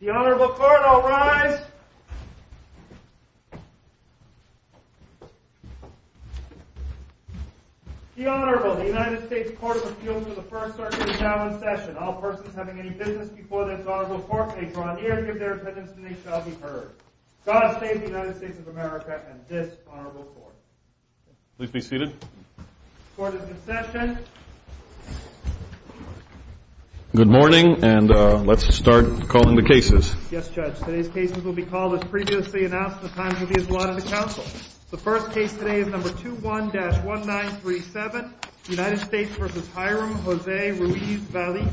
The Honorable Court will rise. The Honorable United States Court of Appeals for the First Circuit shall in session. All persons having any business before this Honorable Court may draw near, give their attendance, and they shall be heard. God save the United States of America and this Honorable Court. Please be seated. Court is in session. Good morning, and let's start calling the cases. Yes, Judge. Today's cases will be called as previously announced and the time will be as allotted to counsel. The first case today is number 21-1937, United States v. Hiram Jose Ruiz-Valle.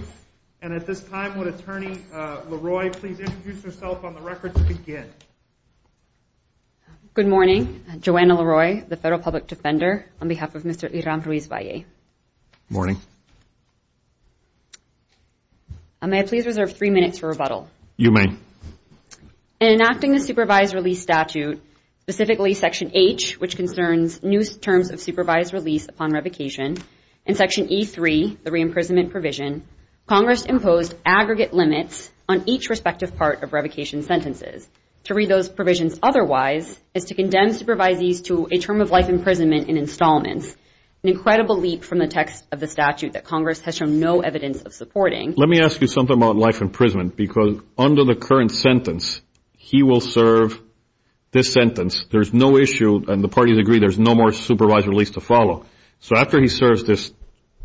And at this time, would Attorney LaRoy please introduce herself on the record to begin? Good morning. Joanna LaRoy, the Federal Public Defender, on behalf of Mr. Hiram Ruiz-Valle. Good morning. May I please reserve three minutes for rebuttal? You may. In enacting the supervised release statute, specifically Section H, which concerns new terms of supervised release upon revocation, and Section E3, the reimprisonment provision, Congress imposed aggregate limits on each respective part of revocation sentences to read those provisions otherwise is to condemn supervisees to a term of life imprisonment in installments, an incredible leap from the text of the statute that Congress has shown no evidence of supporting. Let me ask you something about life imprisonment, because under the current sentence, he will serve this sentence. There's no issue, and the parties agree there's no more supervised release to follow. So after he serves this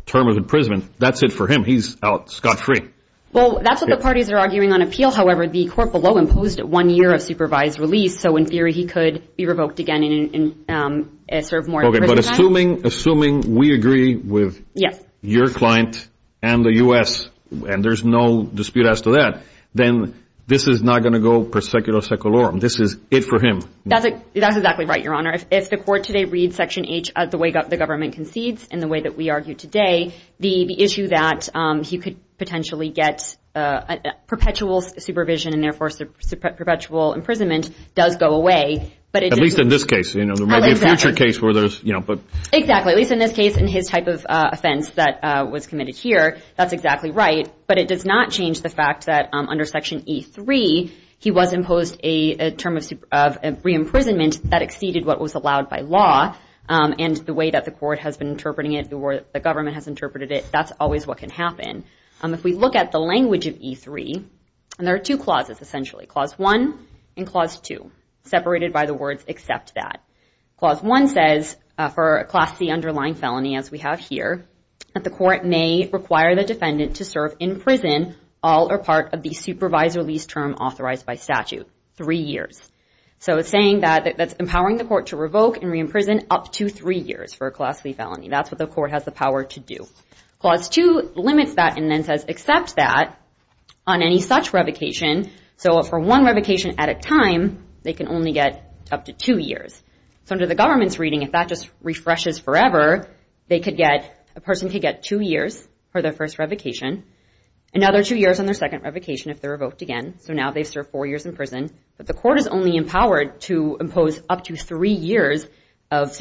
term of imprisonment, that's it for him. He's out scot-free. Well, that's what the parties are arguing on appeal. However, the court below imposed one year of supervised release. So in theory, he could be revoked again and serve more time. Assuming we agree with your client and the U.S., and there's no dispute as to that, then this is not going to go per secular seculorum. This is it for him. That's exactly right, Your Honor. If the court today reads Section H the way the government concedes and the way that we argue today, the issue that he could potentially get perpetual supervision and therefore perpetual imprisonment does go away. At least in this case. There may be a future case where there's, you know. Exactly. At least in this case, in his type of offense that was committed here, that's exactly right. But it does not change the fact that under Section E3, he was imposed a term of re-imprisonment that exceeded what was allowed by law, and the way that the court has been interpreting it or the government has interpreted it, that's always what can happen. If we look at the language of E3, and there are two clauses essentially, Clause 1 and Clause 2, separated by the words, accept that. Clause 1 says, for a Class C underlying felony as we have here, that the court may require the defendant to serve in prison all or part of the supervised release term authorized by statute, three years. So it's saying that that's empowering the court to revoke and re-imprison up to three years for a Class C felony. That's what the court has the power to do. Clause 2 limits that and then says, accept that on any such revocation. So for one revocation at a time, they can only get up to two years. So under the government's reading, if that just refreshes forever, they could get, a person could get two years for their first revocation. Another two years on their second revocation if they're revoked again. So now they've served four years in prison. But the court is only empowered to impose up to three years of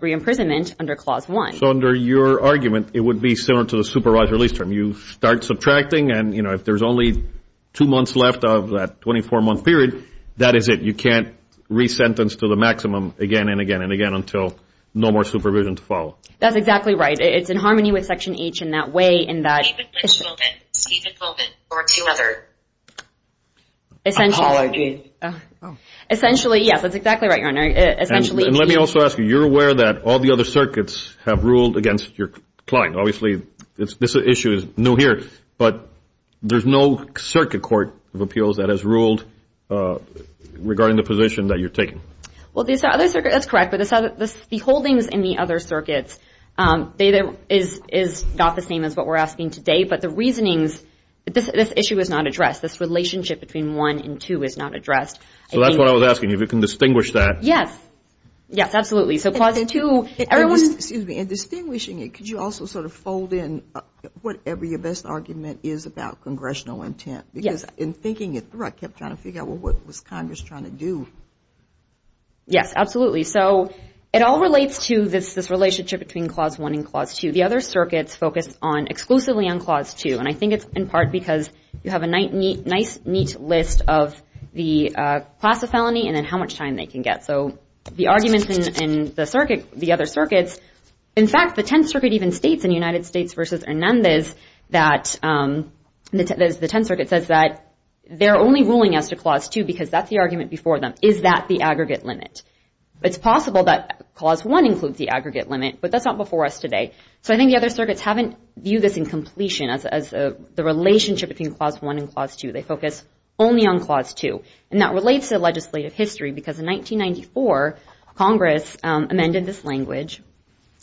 re-imprisonment under Clause 1. So under your argument, it would be similar to the supervised release term. You start subtracting and, you know, if there's only two months left of that 24-month period, that is it. You can't re-sentence to the maximum again and again and again until no more supervision to follow. That's exactly right. It's in harmony with Section H in that way in that Stephen Colvin or two other Apologies. Essentially, yes, that's exactly right, Your Honor. And let me also ask you, you're aware that all the other circuits have ruled against your client. Obviously, this issue is new here. But there's no circuit court of appeals that has ruled regarding the position that you're taking. That's correct, but the holdings in the other circuits, is not the same as what we're asking today. But the reasonings, this issue is not addressed. This relationship between 1 and 2 is not addressed. So that's what I was asking, if you can distinguish that. Yes. Yes, absolutely. So Clause 2, everyone Excuse me. In distinguishing it, could you also sort of fold in whatever your best argument is about congressional intent? Because in thinking it through, I kept trying to figure out, well, what was Congress trying to do? Yes, absolutely. So it all relates to this relationship between Clause 1 and Clause 2. The other circuits focus exclusively on Clause 2. And I think it's in part because you have a nice, neat list of the class of felony and then how much time they can get. So the arguments in the other circuits, in fact, the Tenth Circuit even states in United States v. Hernandez, that the Tenth Circuit says that they're only ruling as to Clause 2 because that's the argument before them. Is that the aggregate limit? It's possible that Clause 1 includes the aggregate limit, but that's not before us today. So I think the other circuits haven't viewed this in completion as the relationship between Clause 1 and Clause 2. They focus only on Clause 2. And that relates to legislative history because in 1994, Congress amended this language.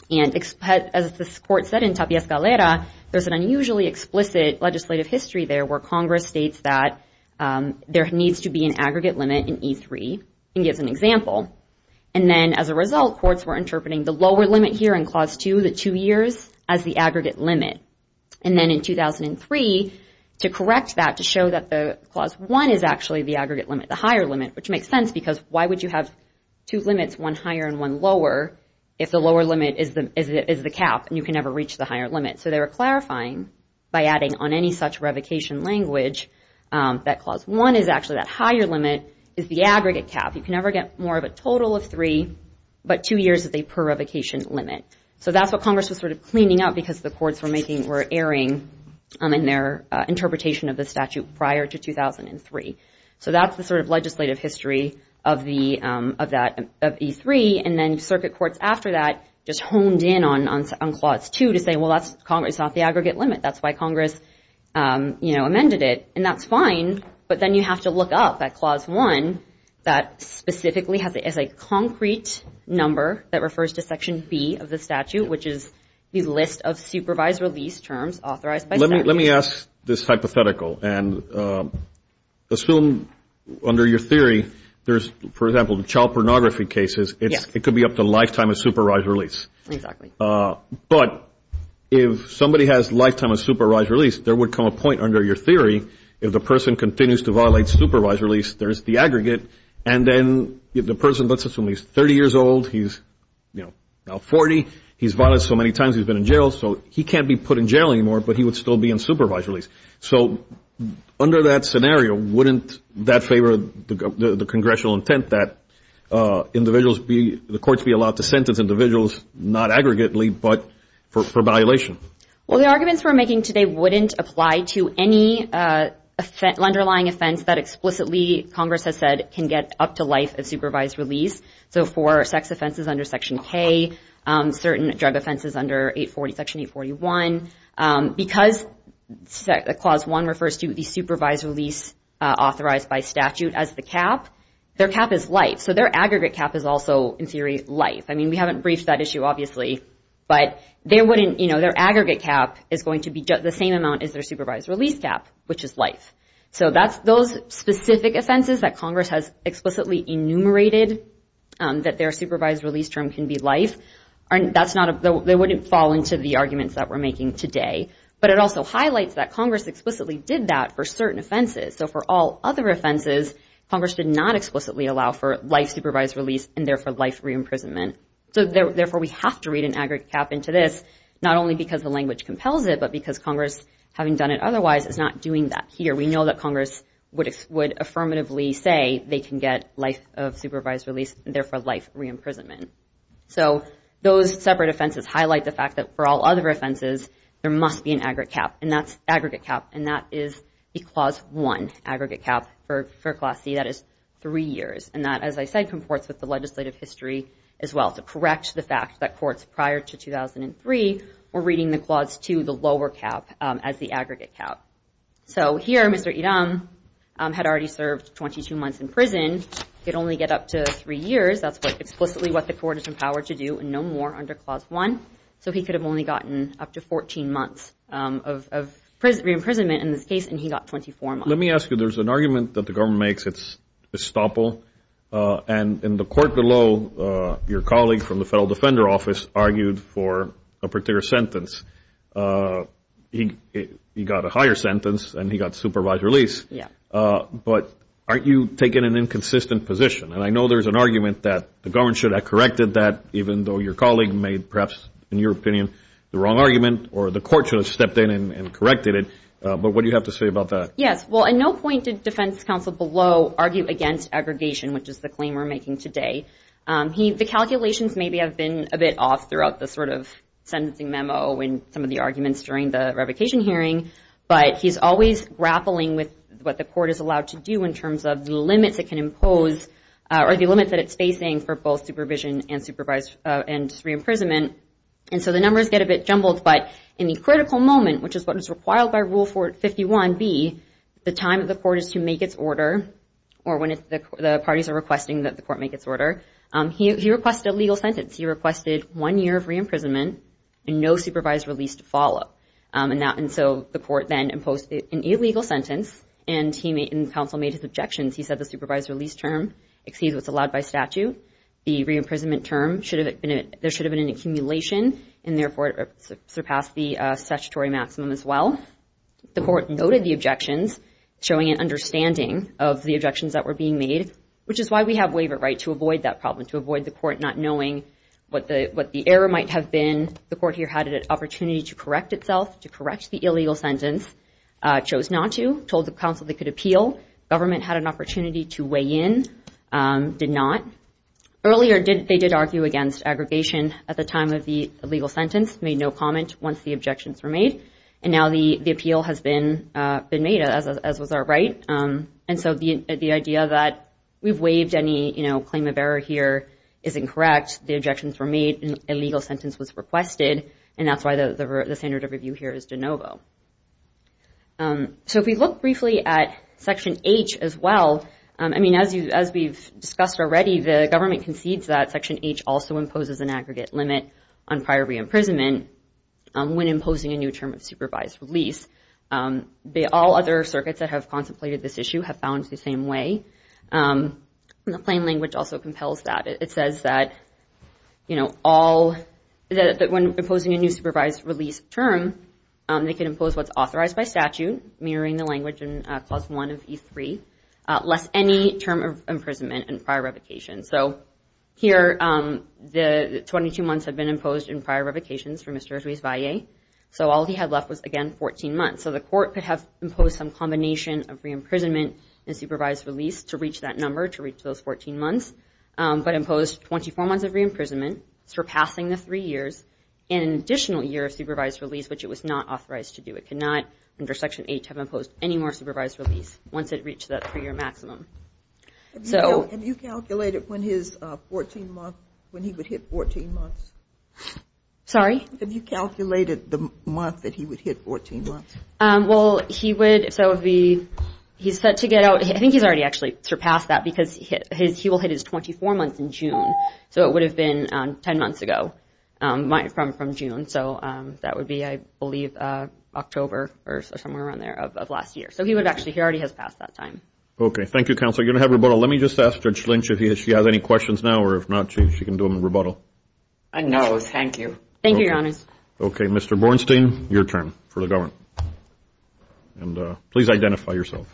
And as the court said in Tapia Escalera, there's an unusually explicit legislative history there where Congress states that there needs to be an aggregate limit in E3 and gives an example. And then as a result, courts were interpreting the lower limit here in Clause 2, the two years, as the aggregate limit. And then in 2003, to correct that, to show that the Clause 1 is actually the aggregate limit, the higher limit, which makes sense because why would you have two limits, one higher and one lower, if the lower limit is the cap and you can never reach the higher limit? So they were clarifying by adding on any such revocation language that Clause 1 is actually that higher limit, is the aggregate cap. You can never get more of a total of three, but two years is a per revocation limit. So that's what Congress was sort of cleaning up because the courts were erring in their interpretation of the statute prior to 2003. So that's the sort of legislative history of E3. And then circuit courts after that just honed in on Clause 2 to say, well, that's Congress. It's not the aggregate limit. That's why Congress, you know, amended it. And that's fine. But then you have to look up that Clause 1 that specifically has a concrete number that refers to Section B of the statute, which is the list of supervised release terms authorized by statute. Let me ask this hypothetical. And assume under your theory there's, for example, child pornography cases, it could be up to lifetime of supervised release. Exactly. But if somebody has lifetime of supervised release, there would come a point under your theory, if the person continues to violate supervised release, there's the aggregate. And then if the person, let's assume he's 30 years old, he's now 40, he's violated so many times he's been in jail, so he can't be put in jail anymore, but he would still be in supervised release. So under that scenario, wouldn't that favor the congressional intent that individuals be, the courts be allowed to sentence individuals not aggregately but for violation? Well, the arguments we're making today wouldn't apply to any underlying offense that explicitly Congress has said can get up to life of supervised release. So for sex offenses under Section K, certain drug offenses under Section 841, because Clause 1 refers to the supervised release authorized by statute as the cap, their cap is life. So their aggregate cap is also, in theory, life. I mean, we haven't briefed that issue, obviously. But their aggregate cap is going to be the same amount as their supervised release cap, which is life. So those specific offenses that Congress has explicitly enumerated that their supervised release term can be life, that wouldn't fall into the arguments that we're making today. But it also highlights that Congress explicitly did that for certain offenses. So for all other offenses, Congress did not explicitly allow for life supervised release and, therefore, life re-imprisonment. So, therefore, we have to read an aggregate cap into this, not only because the language compels it, but because Congress, having done it otherwise, is not doing that here. We know that Congress would affirmatively say they can get life of supervised release and, therefore, life re-imprisonment. So those separate offenses highlight the fact that for all other offenses, there must be an aggregate cap. And that's aggregate cap. And that is the Clause 1 aggregate cap for Class C. That is three years. And that, as I said, comports with the legislative history as well, to correct the fact that courts prior to 2003 were reading the Clause 2, the lower cap, as the aggregate cap. So here, Mr. Iram had already served 22 months in prison, could only get up to three years. That's explicitly what the court is empowered to do and no more under Clause 1. So he could have only gotten up to 14 months of re-imprisonment in this case, and he got 24 months. Let me ask you, there's an argument that the government makes. It's estoppel. And in the court below, your colleague from the Federal Defender Office argued for a particular sentence. He got a higher sentence, and he got supervised release. But aren't you taking an inconsistent position? And I know there's an argument that the government should have corrected that, even though your colleague made perhaps, in your opinion, the wrong argument, or the court should have stepped in and corrected it. But what do you have to say about that? Yes. Well, at no point did defense counsel below argue against aggregation, which is the claim we're making today. The calculations maybe have been a bit off throughout the sort of sentencing memo and some of the arguments during the revocation hearing. But he's always grappling with what the court is allowed to do in terms of the limits it can impose or the limits that it's facing for both supervision and re-imprisonment. And so the numbers get a bit jumbled. But in the critical moment, which is what is required by Rule 51b, the time that the court is to make its order, or when the parties are requesting that the court make its order, he requested a legal sentence. He requested one year of re-imprisonment and no supervised release to follow. And so the court then imposed an illegal sentence, and counsel made his objections. He said the supervised release term exceeds what's allowed by statute. The re-imprisonment term, there should have been an accumulation, and therefore it surpassed the statutory maximum as well. The court noted the objections, showing an understanding of the objections that were being made, which is why we have waiver right to avoid that problem, to avoid the court not knowing what the error might have been. The court here had an opportunity to correct itself, to correct the illegal sentence. Chose not to. Told the counsel they could appeal. Government had an opportunity to weigh in. Did not. Earlier, they did argue against aggregation at the time of the illegal sentence. Made no comment once the objections were made. And now the appeal has been made, as was our right. And so the idea that we've waived any claim of error here is incorrect. The objections were made. An illegal sentence was requested. And that's why the standard of review here is de novo. So if we look briefly at Section H as well, I mean, as we've discussed already, the government concedes that Section H also imposes an aggregate limit on prior re-imprisonment when imposing a new term of supervised release. All other circuits that have contemplated this issue have found the same way. The plain language also compels that. It says that when imposing a new supervised release term, they can impose what's authorized by statute, mirroring the language in Clause 1 of E3, less any term of imprisonment and prior revocation. So here, the 22 months have been imposed in prior revocations for Mr. Ozuiz-Valle. So all he had left was, again, 14 months. So the court could have imposed some combination of re-imprisonment and supervised release to reach that number, to reach those 14 months, but imposed 24 months of re-imprisonment, surpassing the three years, and an additional year of supervised release, which it was not authorized to do. It could not, under Section H, have imposed any more supervised release once it reached that three-year maximum. Have you calculated when he would hit 14 months? Sorry? Have you calculated the month that he would hit 14 months? Well, he would. So he's set to get out. I think he's already actually surpassed that because he will hit his 24 months in June. So it would have been 10 months ago from June. So that would be, I believe, October or somewhere around there of last year. So he already has passed that time. Okay, thank you, Counselor. You're going to have rebuttal. Let me just ask Judge Lynch if she has any questions now, or if not, she can do a rebuttal. No, thank you. Thank you, Your Honors. Okay, Mr. Bornstein, your turn for the government. Please identify yourself.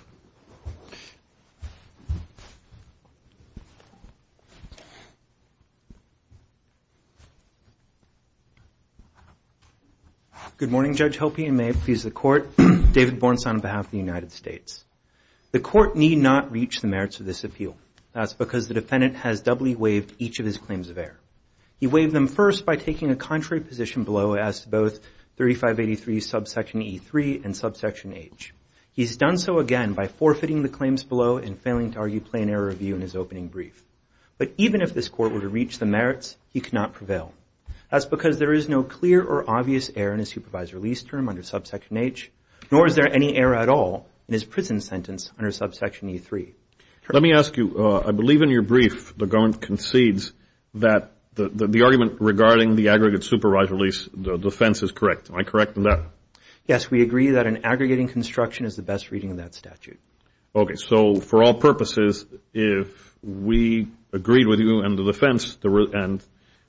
Good morning, Judge. I hope you may please the Court. David Bornstein on behalf of the United States. The Court need not reach the merits of this appeal. That's because the defendant has doubly waived each of his claims of error. He waived them first by taking a contrary position below, as to both 3583 subsection E3 and subsection H. He's done so again by forfeiting the claims below and failing to argue plain error review in his opening brief. But even if this Court were to reach the merits, he cannot prevail. That's because there is no clear or obvious error in his supervisor lease term under subsection H, nor is there any error at all in his prison sentence under subsection E3. Let me ask you, I believe in your brief, the government concedes that the argument regarding the aggregate supervisor lease, the defense is correct. Am I correct in that? Yes, we agree that an aggregating construction is the best reading of that statute. Okay, so for all purposes, if we agreed with you and the defense, and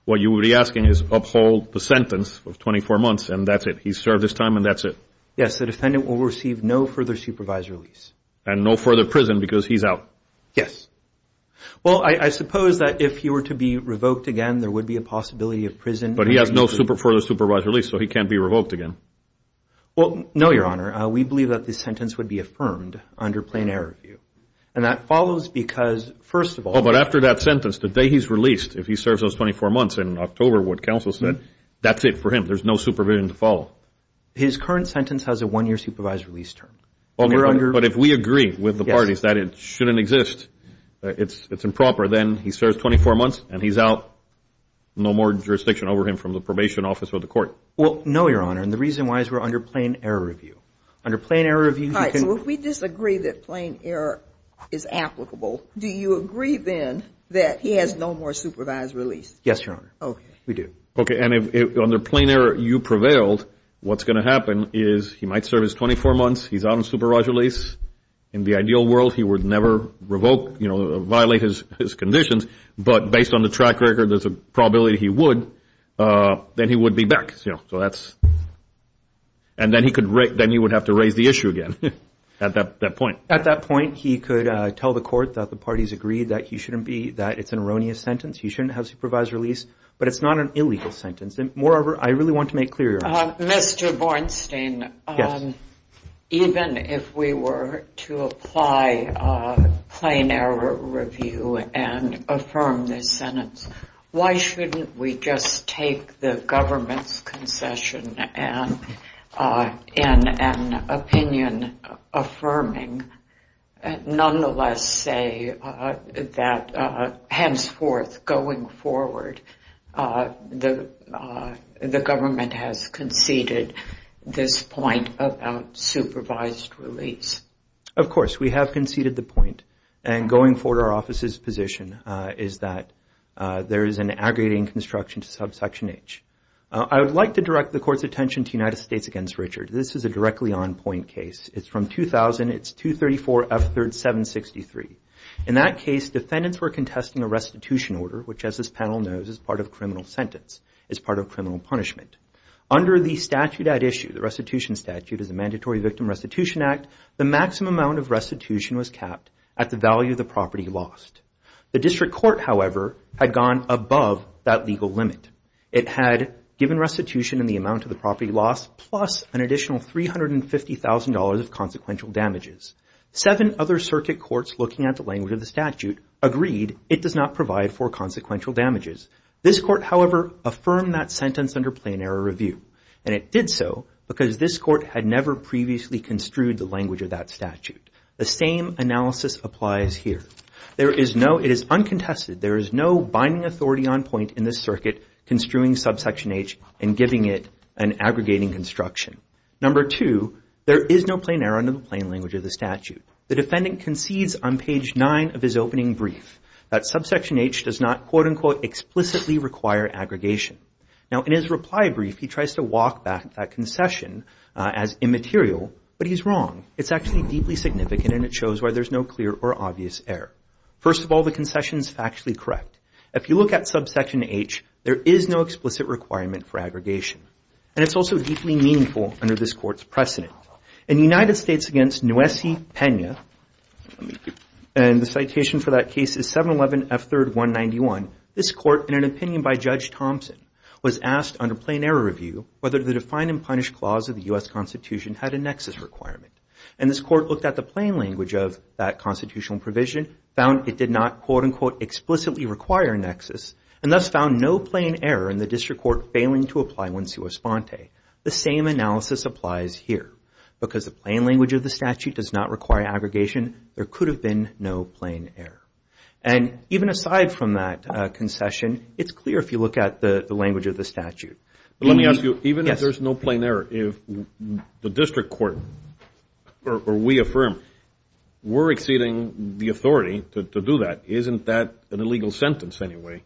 what you would be asking is uphold the sentence of 24 months, and that's it. He's served his time, and that's it. Yes, the defendant will receive no further supervisor lease. And no further prison, because he's out. Yes. Well, I suppose that if he were to be revoked again, there would be a possibility of prison. But he has no further supervisor lease, so he can't be revoked again. Well, no, Your Honor. We believe that this sentence would be affirmed under plain error review. And that follows because, first of all. Oh, but after that sentence, the day he's released, if he serves those 24 months in October, what counsel said, that's it for him. There's no supervision to follow. His current sentence has a one-year supervisor lease term. Okay, but if we agree with the parties that it shouldn't exist, it's improper, then he serves 24 months, and he's out. No more jurisdiction over him from the probation office or the court. Well, no, Your Honor. And the reason why is we're under plain error review. Under plain error review, you can – All right, so if we disagree that plain error is applicable, do you agree then that he has no more supervisor lease? Yes, Your Honor. Okay. We do. Okay, and under plain error, you prevailed. What's going to happen is he might serve his 24 months. He's out on supervisor lease. In the ideal world, he would never revoke, you know, violate his conditions. But based on the track record, there's a probability he would. Then he would be back. So that's – and then he would have to raise the issue again at that point. At that point, he could tell the court that the parties agreed that he shouldn't be – that it's an erroneous sentence. He shouldn't have supervisor lease. But it's not an illegal sentence. Moreover, I really want to make clear, Your Honor. Mr. Bornstein. Yes. Even if we were to apply plain error review and affirm this sentence, why shouldn't we just take the government's concession and an opinion affirming, nonetheless say that henceforth going forward, the government has conceded this point about supervised release? Of course. We have conceded the point. And going forward, our office's position is that there is an aggregating construction to subsection H. I would like to direct the court's attention to United States against Richard. This is a directly on point case. It's from 2000. It's 234F3763. In that case, defendants were contesting a restitution order, which as this panel knows is part of criminal sentence, is part of criminal punishment. Under the statute at issue, the restitution statute, is a mandatory victim restitution act, the maximum amount of restitution was capped at the value of the property lost. The district court, however, had gone above that legal limit. It had given restitution in the amount of the property lost plus an additional $350,000 of consequential damages. Seven other circuit courts looking at the language of the statute, agreed it does not provide for consequential damages. This court, however, affirmed that sentence under plain error review. And it did so because this court had never previously construed the language of that statute. The same analysis applies here. It is uncontested. There is no binding authority on point in this circuit construing subsection H and giving it an aggregating construction. Number two, there is no plain error under the plain language of the statute. The defendant concedes on page nine of his opening brief that subsection H does not quote-unquote explicitly require aggregation. Now in his reply brief, he tries to walk back that concession as immaterial, but he's wrong. It's actually deeply significant and it shows why there's no clear or obvious error. First of all, the concession is factually correct. If you look at subsection H, there is no explicit requirement for aggregation. And it's also deeply meaningful under this court's precedent. In the United States against Nwesi Pena, and the citation for that case is 711F3-191, this court, in an opinion by Judge Thompson, was asked under plain error review whether the define and punish clause of the U.S. Constitution had a nexus requirement. And this court looked at the plain language of that constitutional provision, found it did not quote-unquote explicitly require a nexus, and thus found no plain error in the district court failing to apply one sua sponte. The same analysis applies here. Because the plain language of the statute does not require aggregation, there could have been no plain error. And even aside from that concession, it's clear if you look at the language of the statute. Let me ask you, even if there's no plain error, the district court, or we affirm, we're exceeding the authority to do that. Isn't that an illegal sentence anyway?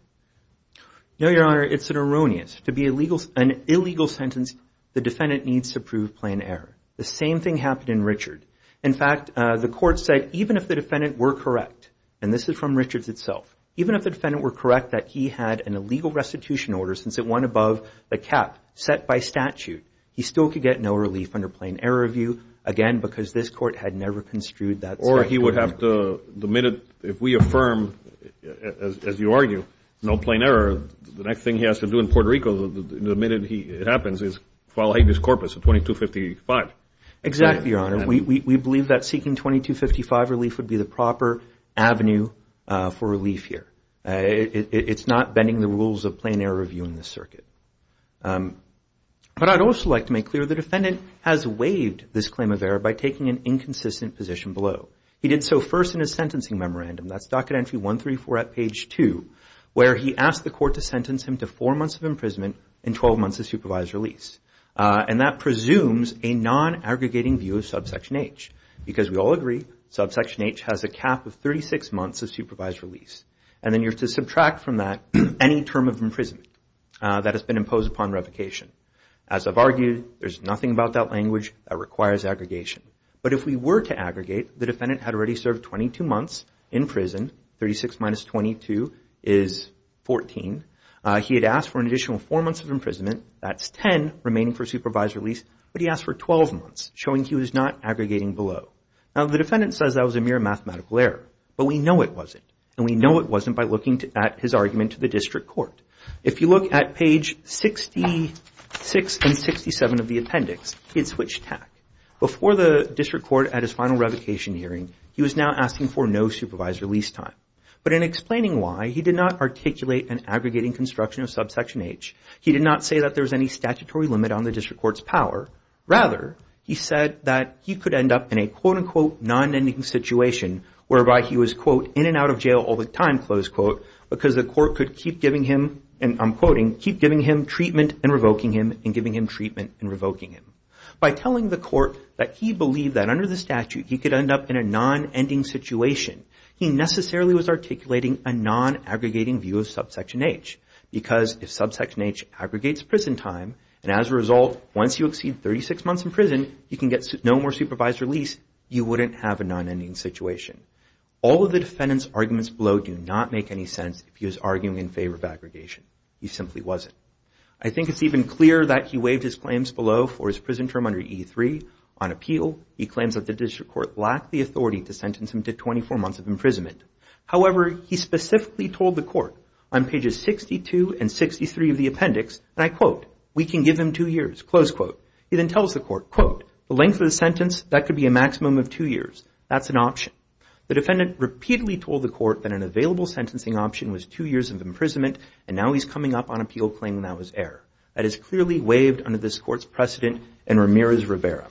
No, Your Honor, it's an erroneous. To be an illegal sentence, the defendant needs to prove plain error. The same thing happened in Richard. In fact, the court said even if the defendant were correct, and this is from Richard's itself, even if the defendant were correct that he had an illegal restitution order since it went above the cap set by statute, he still could get no relief under plain error review, again, because this court had never construed that statute. Or he would have to, the minute, if we affirm, as you argue, no plain error, the next thing he has to do in Puerto Rico, the minute it happens, is file habeas corpus at 2255. Exactly, Your Honor. We believe that seeking 2255 relief would be the proper avenue for relief here. It's not bending the rules of plain error review in this circuit. But I'd also like to make clear the defendant has waived this claim of error by taking an inconsistent position below. He did so first in his sentencing memorandum, that's docket entry 134 at page 2, where he asked the court to sentence him to four months of imprisonment and 12 months of supervised release. And that presumes a non-aggregating view of subsection H, because we all agree subsection H has a cap of 36 months of supervised release. And then you have to subtract from that any term of imprisonment that has been imposed upon revocation. As I've argued, there's nothing about that language that requires aggregation. But if we were to aggregate, the defendant had already served 22 months in prison, 36 minus 22 is 14. He had asked for an additional four months of imprisonment, that's 10 remaining for supervised release, but he asked for 12 months, showing he was not aggregating below. Now, the defendant says that was a mere mathematical error, but we know it wasn't. And we know it wasn't by looking at his argument to the district court. If you look at page 66 and 67 of the appendix, he had switched tack. Before the district court at his final revocation hearing, he was now asking for no supervised release time. But in explaining why, he did not articulate an aggregating construction of subsection H. He did not say that there was any statutory limit on the district court's power. Rather, he said that he could end up in a quote-unquote non-ending situation whereby he was quote, in and out of jail all the time, close quote, because the court could keep giving him, and I'm quoting, keep giving him treatment and revoking him and giving him treatment and revoking him. By telling the court that he believed that under the statute, he could end up in a non-ending situation, he necessarily was articulating a non-aggregating view of subsection H. Because if subsection H aggregates prison time, and as a result, once you exceed 36 months in prison, you can get no more supervised release, you wouldn't have a non-ending situation. All of the defendant's arguments below do not make any sense if he was arguing in favor of aggregation. He simply wasn't. I think it's even clearer that he waived his claims below for his prison term under E3. On appeal, he claims that the district court lacked the authority to sentence him to 24 months of imprisonment. However, he specifically told the court on pages 62 and 63 of the appendix, and I quote, we can give him two years, close quote. He then tells the court, quote, the length of the sentence, that could be a maximum of two years, that's an option. The defendant repeatedly told the court that an available sentencing option was two years of imprisonment, and now he's coming up on appeal claiming that was error. That is clearly waived under this court's precedent in Ramirez-Rivera.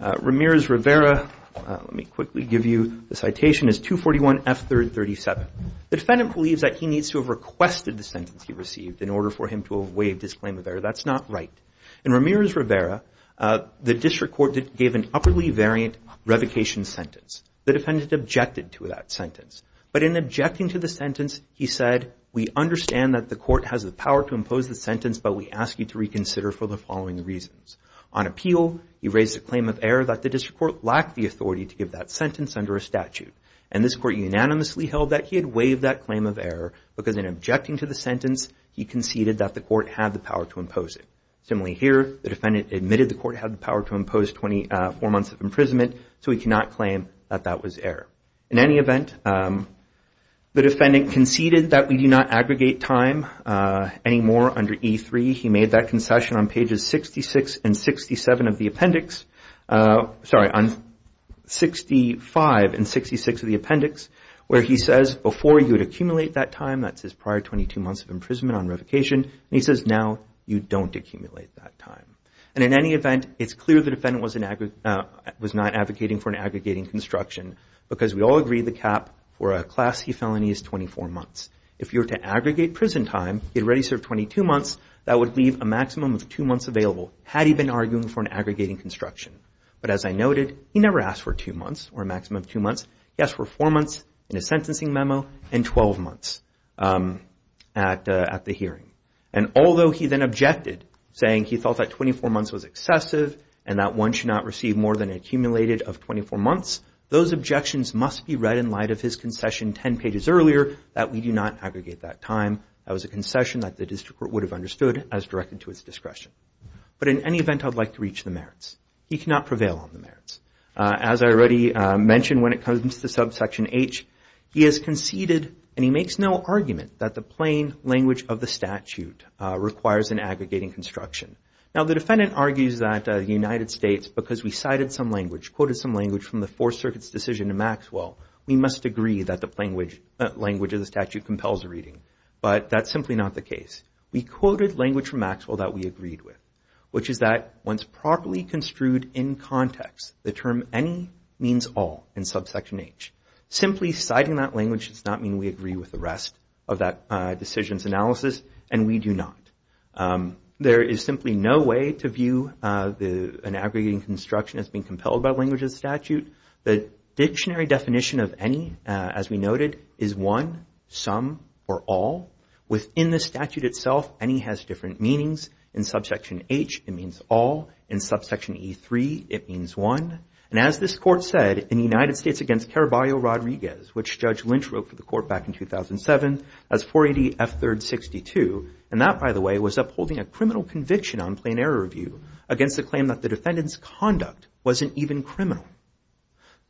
Ramirez-Rivera, let me quickly give you the citation, is 241 F3rd 37. The defendant believes that he needs to have requested the sentence he received in order for him to have waived his claim of error, that's not right. In Ramirez-Rivera, the district court gave an upwardly variant revocation sentence. The defendant objected to that sentence. But in objecting to the sentence, he said, we understand that the court has the power to impose the sentence, but we ask you to reconsider for the following reasons. On appeal, he raised a claim of error that the district court lacked the authority to give that sentence under a statute. And this court unanimously held that he had waived that claim of error because in objecting to the sentence, he conceded that the court had the power to impose it. Similarly here, the defendant admitted the court had the power to impose 24 months of imprisonment, so he cannot claim that that was error. In any event, the defendant conceded that we do not aggregate time anymore under E3. He made that concession on pages 65 and 66 of the appendix, where he says, before you would accumulate that time, that's his prior 22 months of imprisonment on revocation, and he says now you don't accumulate that time. And in any event, it's clear the defendant was not advocating for an aggregating construction because we all agree the cap for a Class C felony is 24 months. If you were to aggregate prison time, he had already served 22 months, that would leave a maximum of two months available, had he been arguing for an aggregating construction. But as I noted, he never asked for two months or a maximum of two months. He asked for four months in a sentencing memo and 12 months at the hearing. And although he then objected, saying he thought that 24 months was excessive and that one should not receive more than accumulated of 24 months, those objections must be read in light of his concession 10 pages earlier that we do not aggregate that time. That was a concession that the district court would have understood as directed to his discretion. But in any event, I'd like to reach the merits. He cannot prevail on the merits. As I already mentioned when it comes to subsection H, he has conceded and he makes no argument that the plain language of the statute requires an aggregating construction. Now, the defendant argues that the United States, because we cited some language, quoted some language from the Fourth Circuit's decision to Maxwell, we must agree that the plain language of the statute compels a reading. But that's simply not the case. We quoted language from Maxwell that we agreed with, which is that once properly construed in context, the term any means all in subsection H. Simply citing that language does not mean we agree with the rest of that decision's analysis, and we do not. There is simply no way to view an aggregating construction as being compelled by language of the statute. The dictionary definition of any, as we noted, is one, some, or all. Within the statute itself, any has different meanings. In subsection H, it means all. In subsection E3, it means one. And as this Court said in the United States against Caraballo-Rodriguez, which Judge Lynch wrote for the Court back in 2007 as 480F3-62, and that, by the way, was upholding a criminal conviction on plain error review against the claim that the defendant's conduct wasn't even criminal.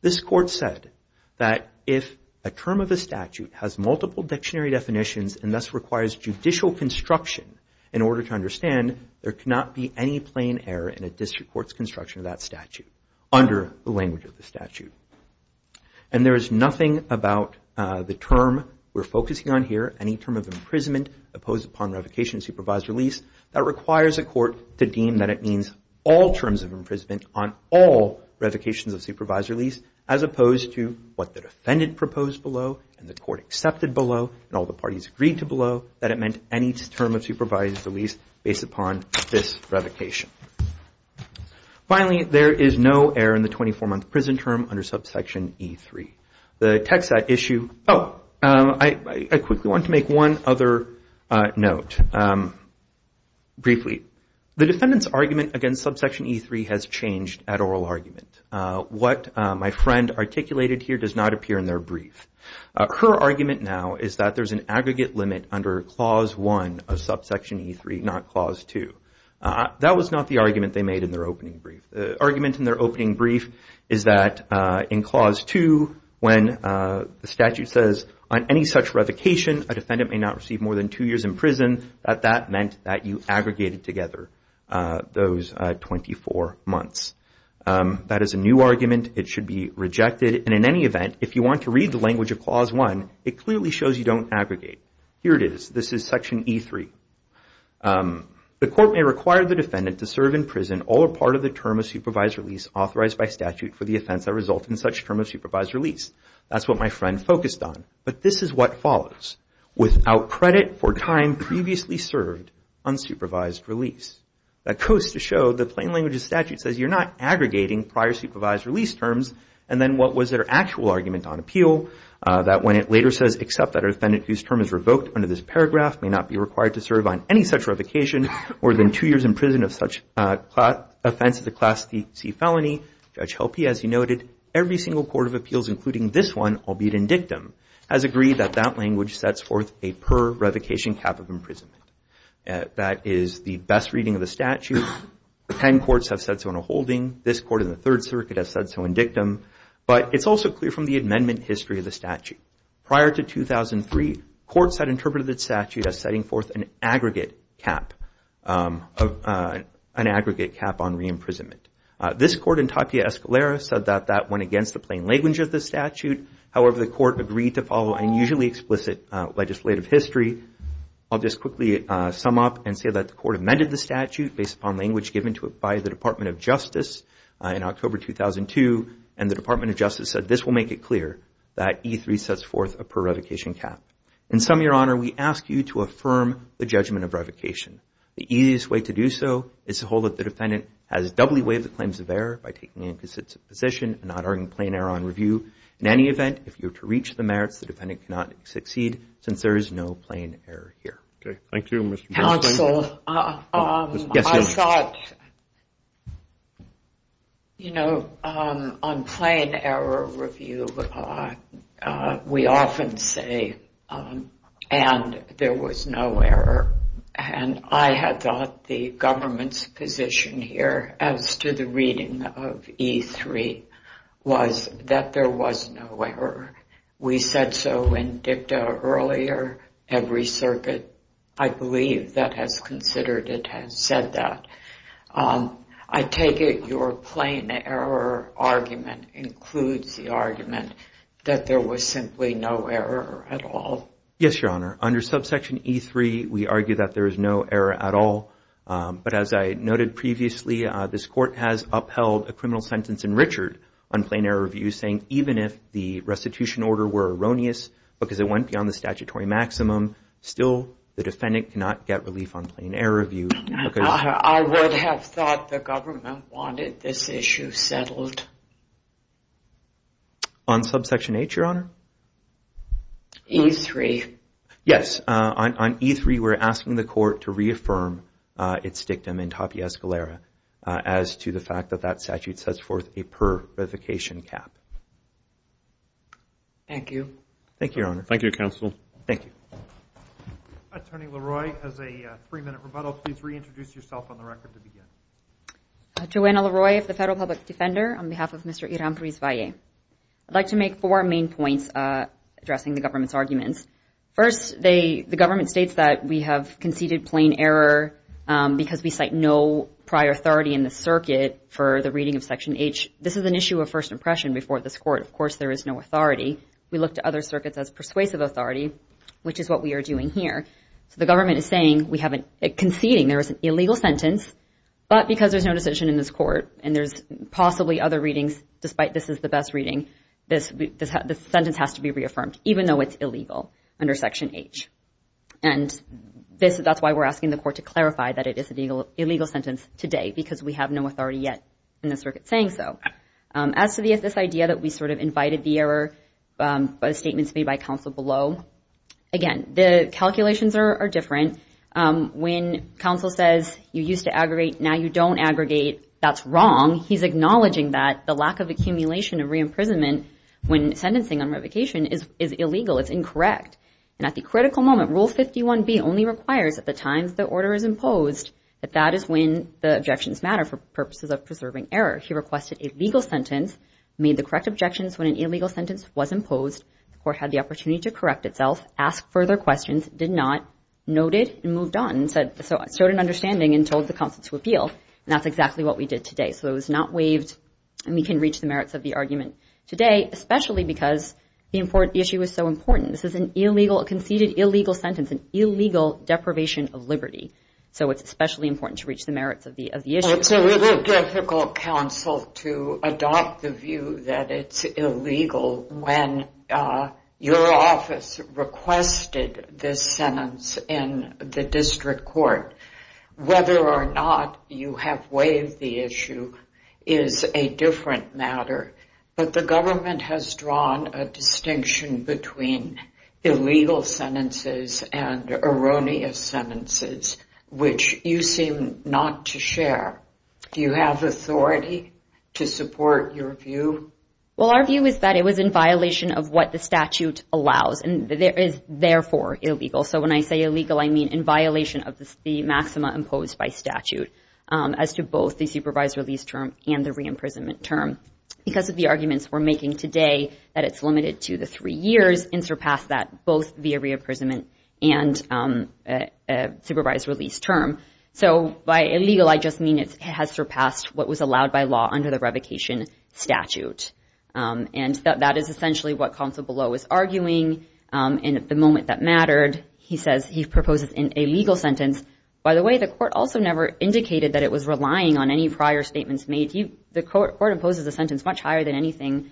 This Court said that if a term of a statute has multiple dictionary definitions and thus requires judicial construction in order to understand, there cannot be any plain error in a district court's construction of that statute under the language of the statute. And there is nothing about the term we're focusing on here, any term of imprisonment opposed upon revocation of supervised release, that requires a court to deem that it means all terms of imprisonment on all revocations of supervised release, as opposed to what the defendant proposed below and the Court accepted below and all the parties agreed to below, that it meant any term of supervised release based upon this revocation. Finally, there is no error in the 24-month prison term under subsection E3. The text of that issue – oh, I quickly want to make one other note, briefly. The defendant's argument against subsection E3 has changed at oral argument. What my friend articulated here does not appear in their brief. Her argument now is that there's an aggregate limit under Clause 1 of subsection E3, not Clause 2. That was not the argument they made in their opening brief. The argument in their opening brief is that in Clause 2, when the statute says, on any such revocation, a defendant may not receive more than two years in prison, that that meant that you aggregated together those 24 months. That is a new argument. It should be rejected. And in any event, if you want to read the language of Clause 1, it clearly shows you don't aggregate. Here it is. This is section E3. The Court may require the defendant to serve in prison all or part of the term of supervised release authorized by statute for the offense that results in such term of supervised release. That's what my friend focused on. But this is what follows. Without credit for time previously served on supervised release. That goes to show the plain language of statute says you're not aggregating prior supervised release terms. And then what was their actual argument on appeal? That when it later says, except that a defendant whose term is revoked under this paragraph may not be required to serve on any such revocation more than two years in prison of such offense of the Class C felony, Judge Helpe, as he noted, every single court of appeals including this one, albeit in dictum, has agreed that that language sets forth a per-revocation cap of imprisonment. That is the best reading of the statute. Ten courts have said so in a holding. This court in the Third Circuit has said so in dictum. But it's also clear from the amendment history of the statute. Prior to 2003, courts had interpreted the statute as setting forth an aggregate cap on re-imprisonment. This court in Tapia Escalera said that that went against the plain language of the statute. However, the court agreed to follow unusually explicit legislative history. I'll just quickly sum up and say that the court amended the statute based upon language given to it by the Department of Justice in October 2002. And the Department of Justice said this will make it clear that E-3 sets forth a per-revocation cap. In sum, Your Honor, we ask you to affirm the judgment of revocation. The easiest way to do so is to hold that the defendant has doubly waived the claims of error by taking an inconsistent position and not arguing plain error on review. In any event, if you are to reach the merits, the defendant cannot succeed since there is no plain error here. Okay. Thank you, Mr. Bernstein. Counsel, I thought, you know, on plain error review, we often say, and there was no error. And I had thought the government's position here as to the reading of E-3 was that there was no error. We said so in dicta earlier. Every circuit, I believe, that has considered it has said that. I take it your plain error argument includes the argument that there was simply no error at all. Yes, Your Honor. Under subsection E-3, we argue that there is no error at all. But as I noted previously, this court has upheld a criminal sentence in Richard on plain error review saying even if the restitution order were erroneous because it went beyond the statutory maximum, still the defendant cannot get relief on plain error review. I would have thought the government wanted this issue settled. On subsection H, Your Honor? E-3. Yes. On E-3, we're asking the court to reaffirm its dictum in Tapia Escalera as to the fact that that statute sets forth a per revocation cap. Thank you. Thank you, Your Honor. Thank you, Counsel. Thank you. Attorney LaRoy, as a three-minute rebuttal, please reintroduce yourself on the record to begin. Joanna LaRoy of the Federal Public Defender on behalf of Mr. Iram Prisvalli. I'd like to make four main points addressing the government's arguments. First, the government states that we have conceded plain error because we cite no prior authority in the circuit for the reading of section H. This is an issue of first impression before this court. Of course, there is no authority. We look to other circuits as persuasive authority, which is what we are doing here. So the government is saying we have a conceding. There is an illegal sentence, but because there's no decision in this court and there's possibly other readings despite this is the best reading, this sentence has to be reaffirmed even though it's illegal under section H. And that's why we're asking the court to clarify that it is an illegal sentence today because we have no authority yet in the circuit saying so. As to this idea that we sort of invited the error by statements made by counsel below, again, the calculations are different. When counsel says you used to aggregate, now you don't aggregate, that's wrong. He's acknowledging that the lack of accumulation of reimprisonment when sentencing on revocation is illegal. It's incorrect. And at the critical moment, Rule 51B only requires at the times the order is imposed that that is when the objections matter for purposes of preserving error. He requested a legal sentence, made the correct objections when an illegal sentence was imposed, the court had the opportunity to correct itself, asked further questions, did not, noted and moved on and showed an understanding and told the counsel to appeal. And that's exactly what we did today. So it was not waived and we can reach the merits of the argument today, especially because the issue is so important. This is a conceded illegal sentence, an illegal deprivation of liberty. So it's especially important to reach the merits of the issue. It's a little difficult, counsel, to adopt the view that it's illegal when your office requested this sentence in the district court. Whether or not you have waived the issue is a different matter, but the government has drawn a distinction between illegal sentences and erroneous sentences, which you seem not to share. Do you have authority to support your view? Well, our view is that it was in violation of what the statute allows and is therefore illegal. So when I say illegal, I mean in violation of the maxima imposed by statute as to both the supervised release term and the re-imprisonment term. Because of the arguments we're making today, that it's limited to the three years and surpassed that both via re-imprisonment and supervised release term. So by illegal, I just mean it has surpassed what was allowed by law under the revocation statute. And that is essentially what counsel Below is arguing. And at the moment that mattered, he says he proposes an illegal sentence. By the way, the court also never indicated that it was relying on any prior statements made. The court proposes a sentence much higher than anything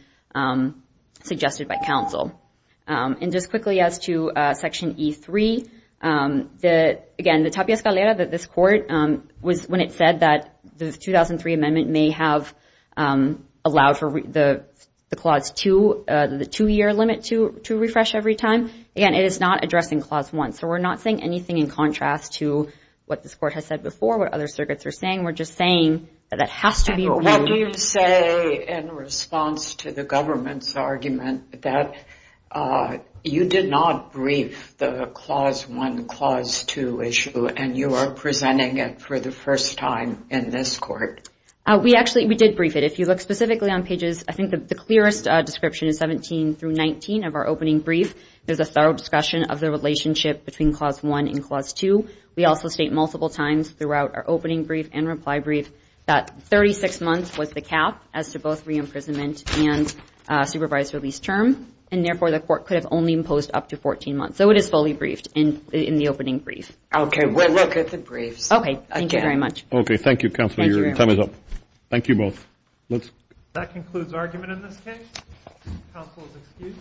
suggested by counsel. And just quickly as to Section E3, again, the Tapia Escalera that this court was when it said that the 2003 amendment may have allowed for the Clause 2, the two-year limit to refresh every time. Again, it is not addressing Clause 1. So we're not saying anything in contrast to what this court has said before, what other circuits are saying. We're just saying that that has to be reviewed. What do you say in response to the government's argument that you did not brief the Clause 1, Clause 2 issue, and you are presenting it for the first time in this court? We actually did brief it. If you look specifically on pages, I think the clearest description is 17 through 19 of our opening brief. There's a thorough discussion of the relationship between Clause 1 and Clause 2. We also state multiple times throughout our opening brief and reply brief that 36 months was the cap as to both re-imprisonment and supervised release term, and therefore the court could have only imposed up to 14 months. So it is fully briefed in the opening brief. Okay. We'll look at the briefs. Okay. Thank you very much. Okay. Thank you, Counselor. Your time is up. Thank you both. That concludes argument in this case. Counsel is excused.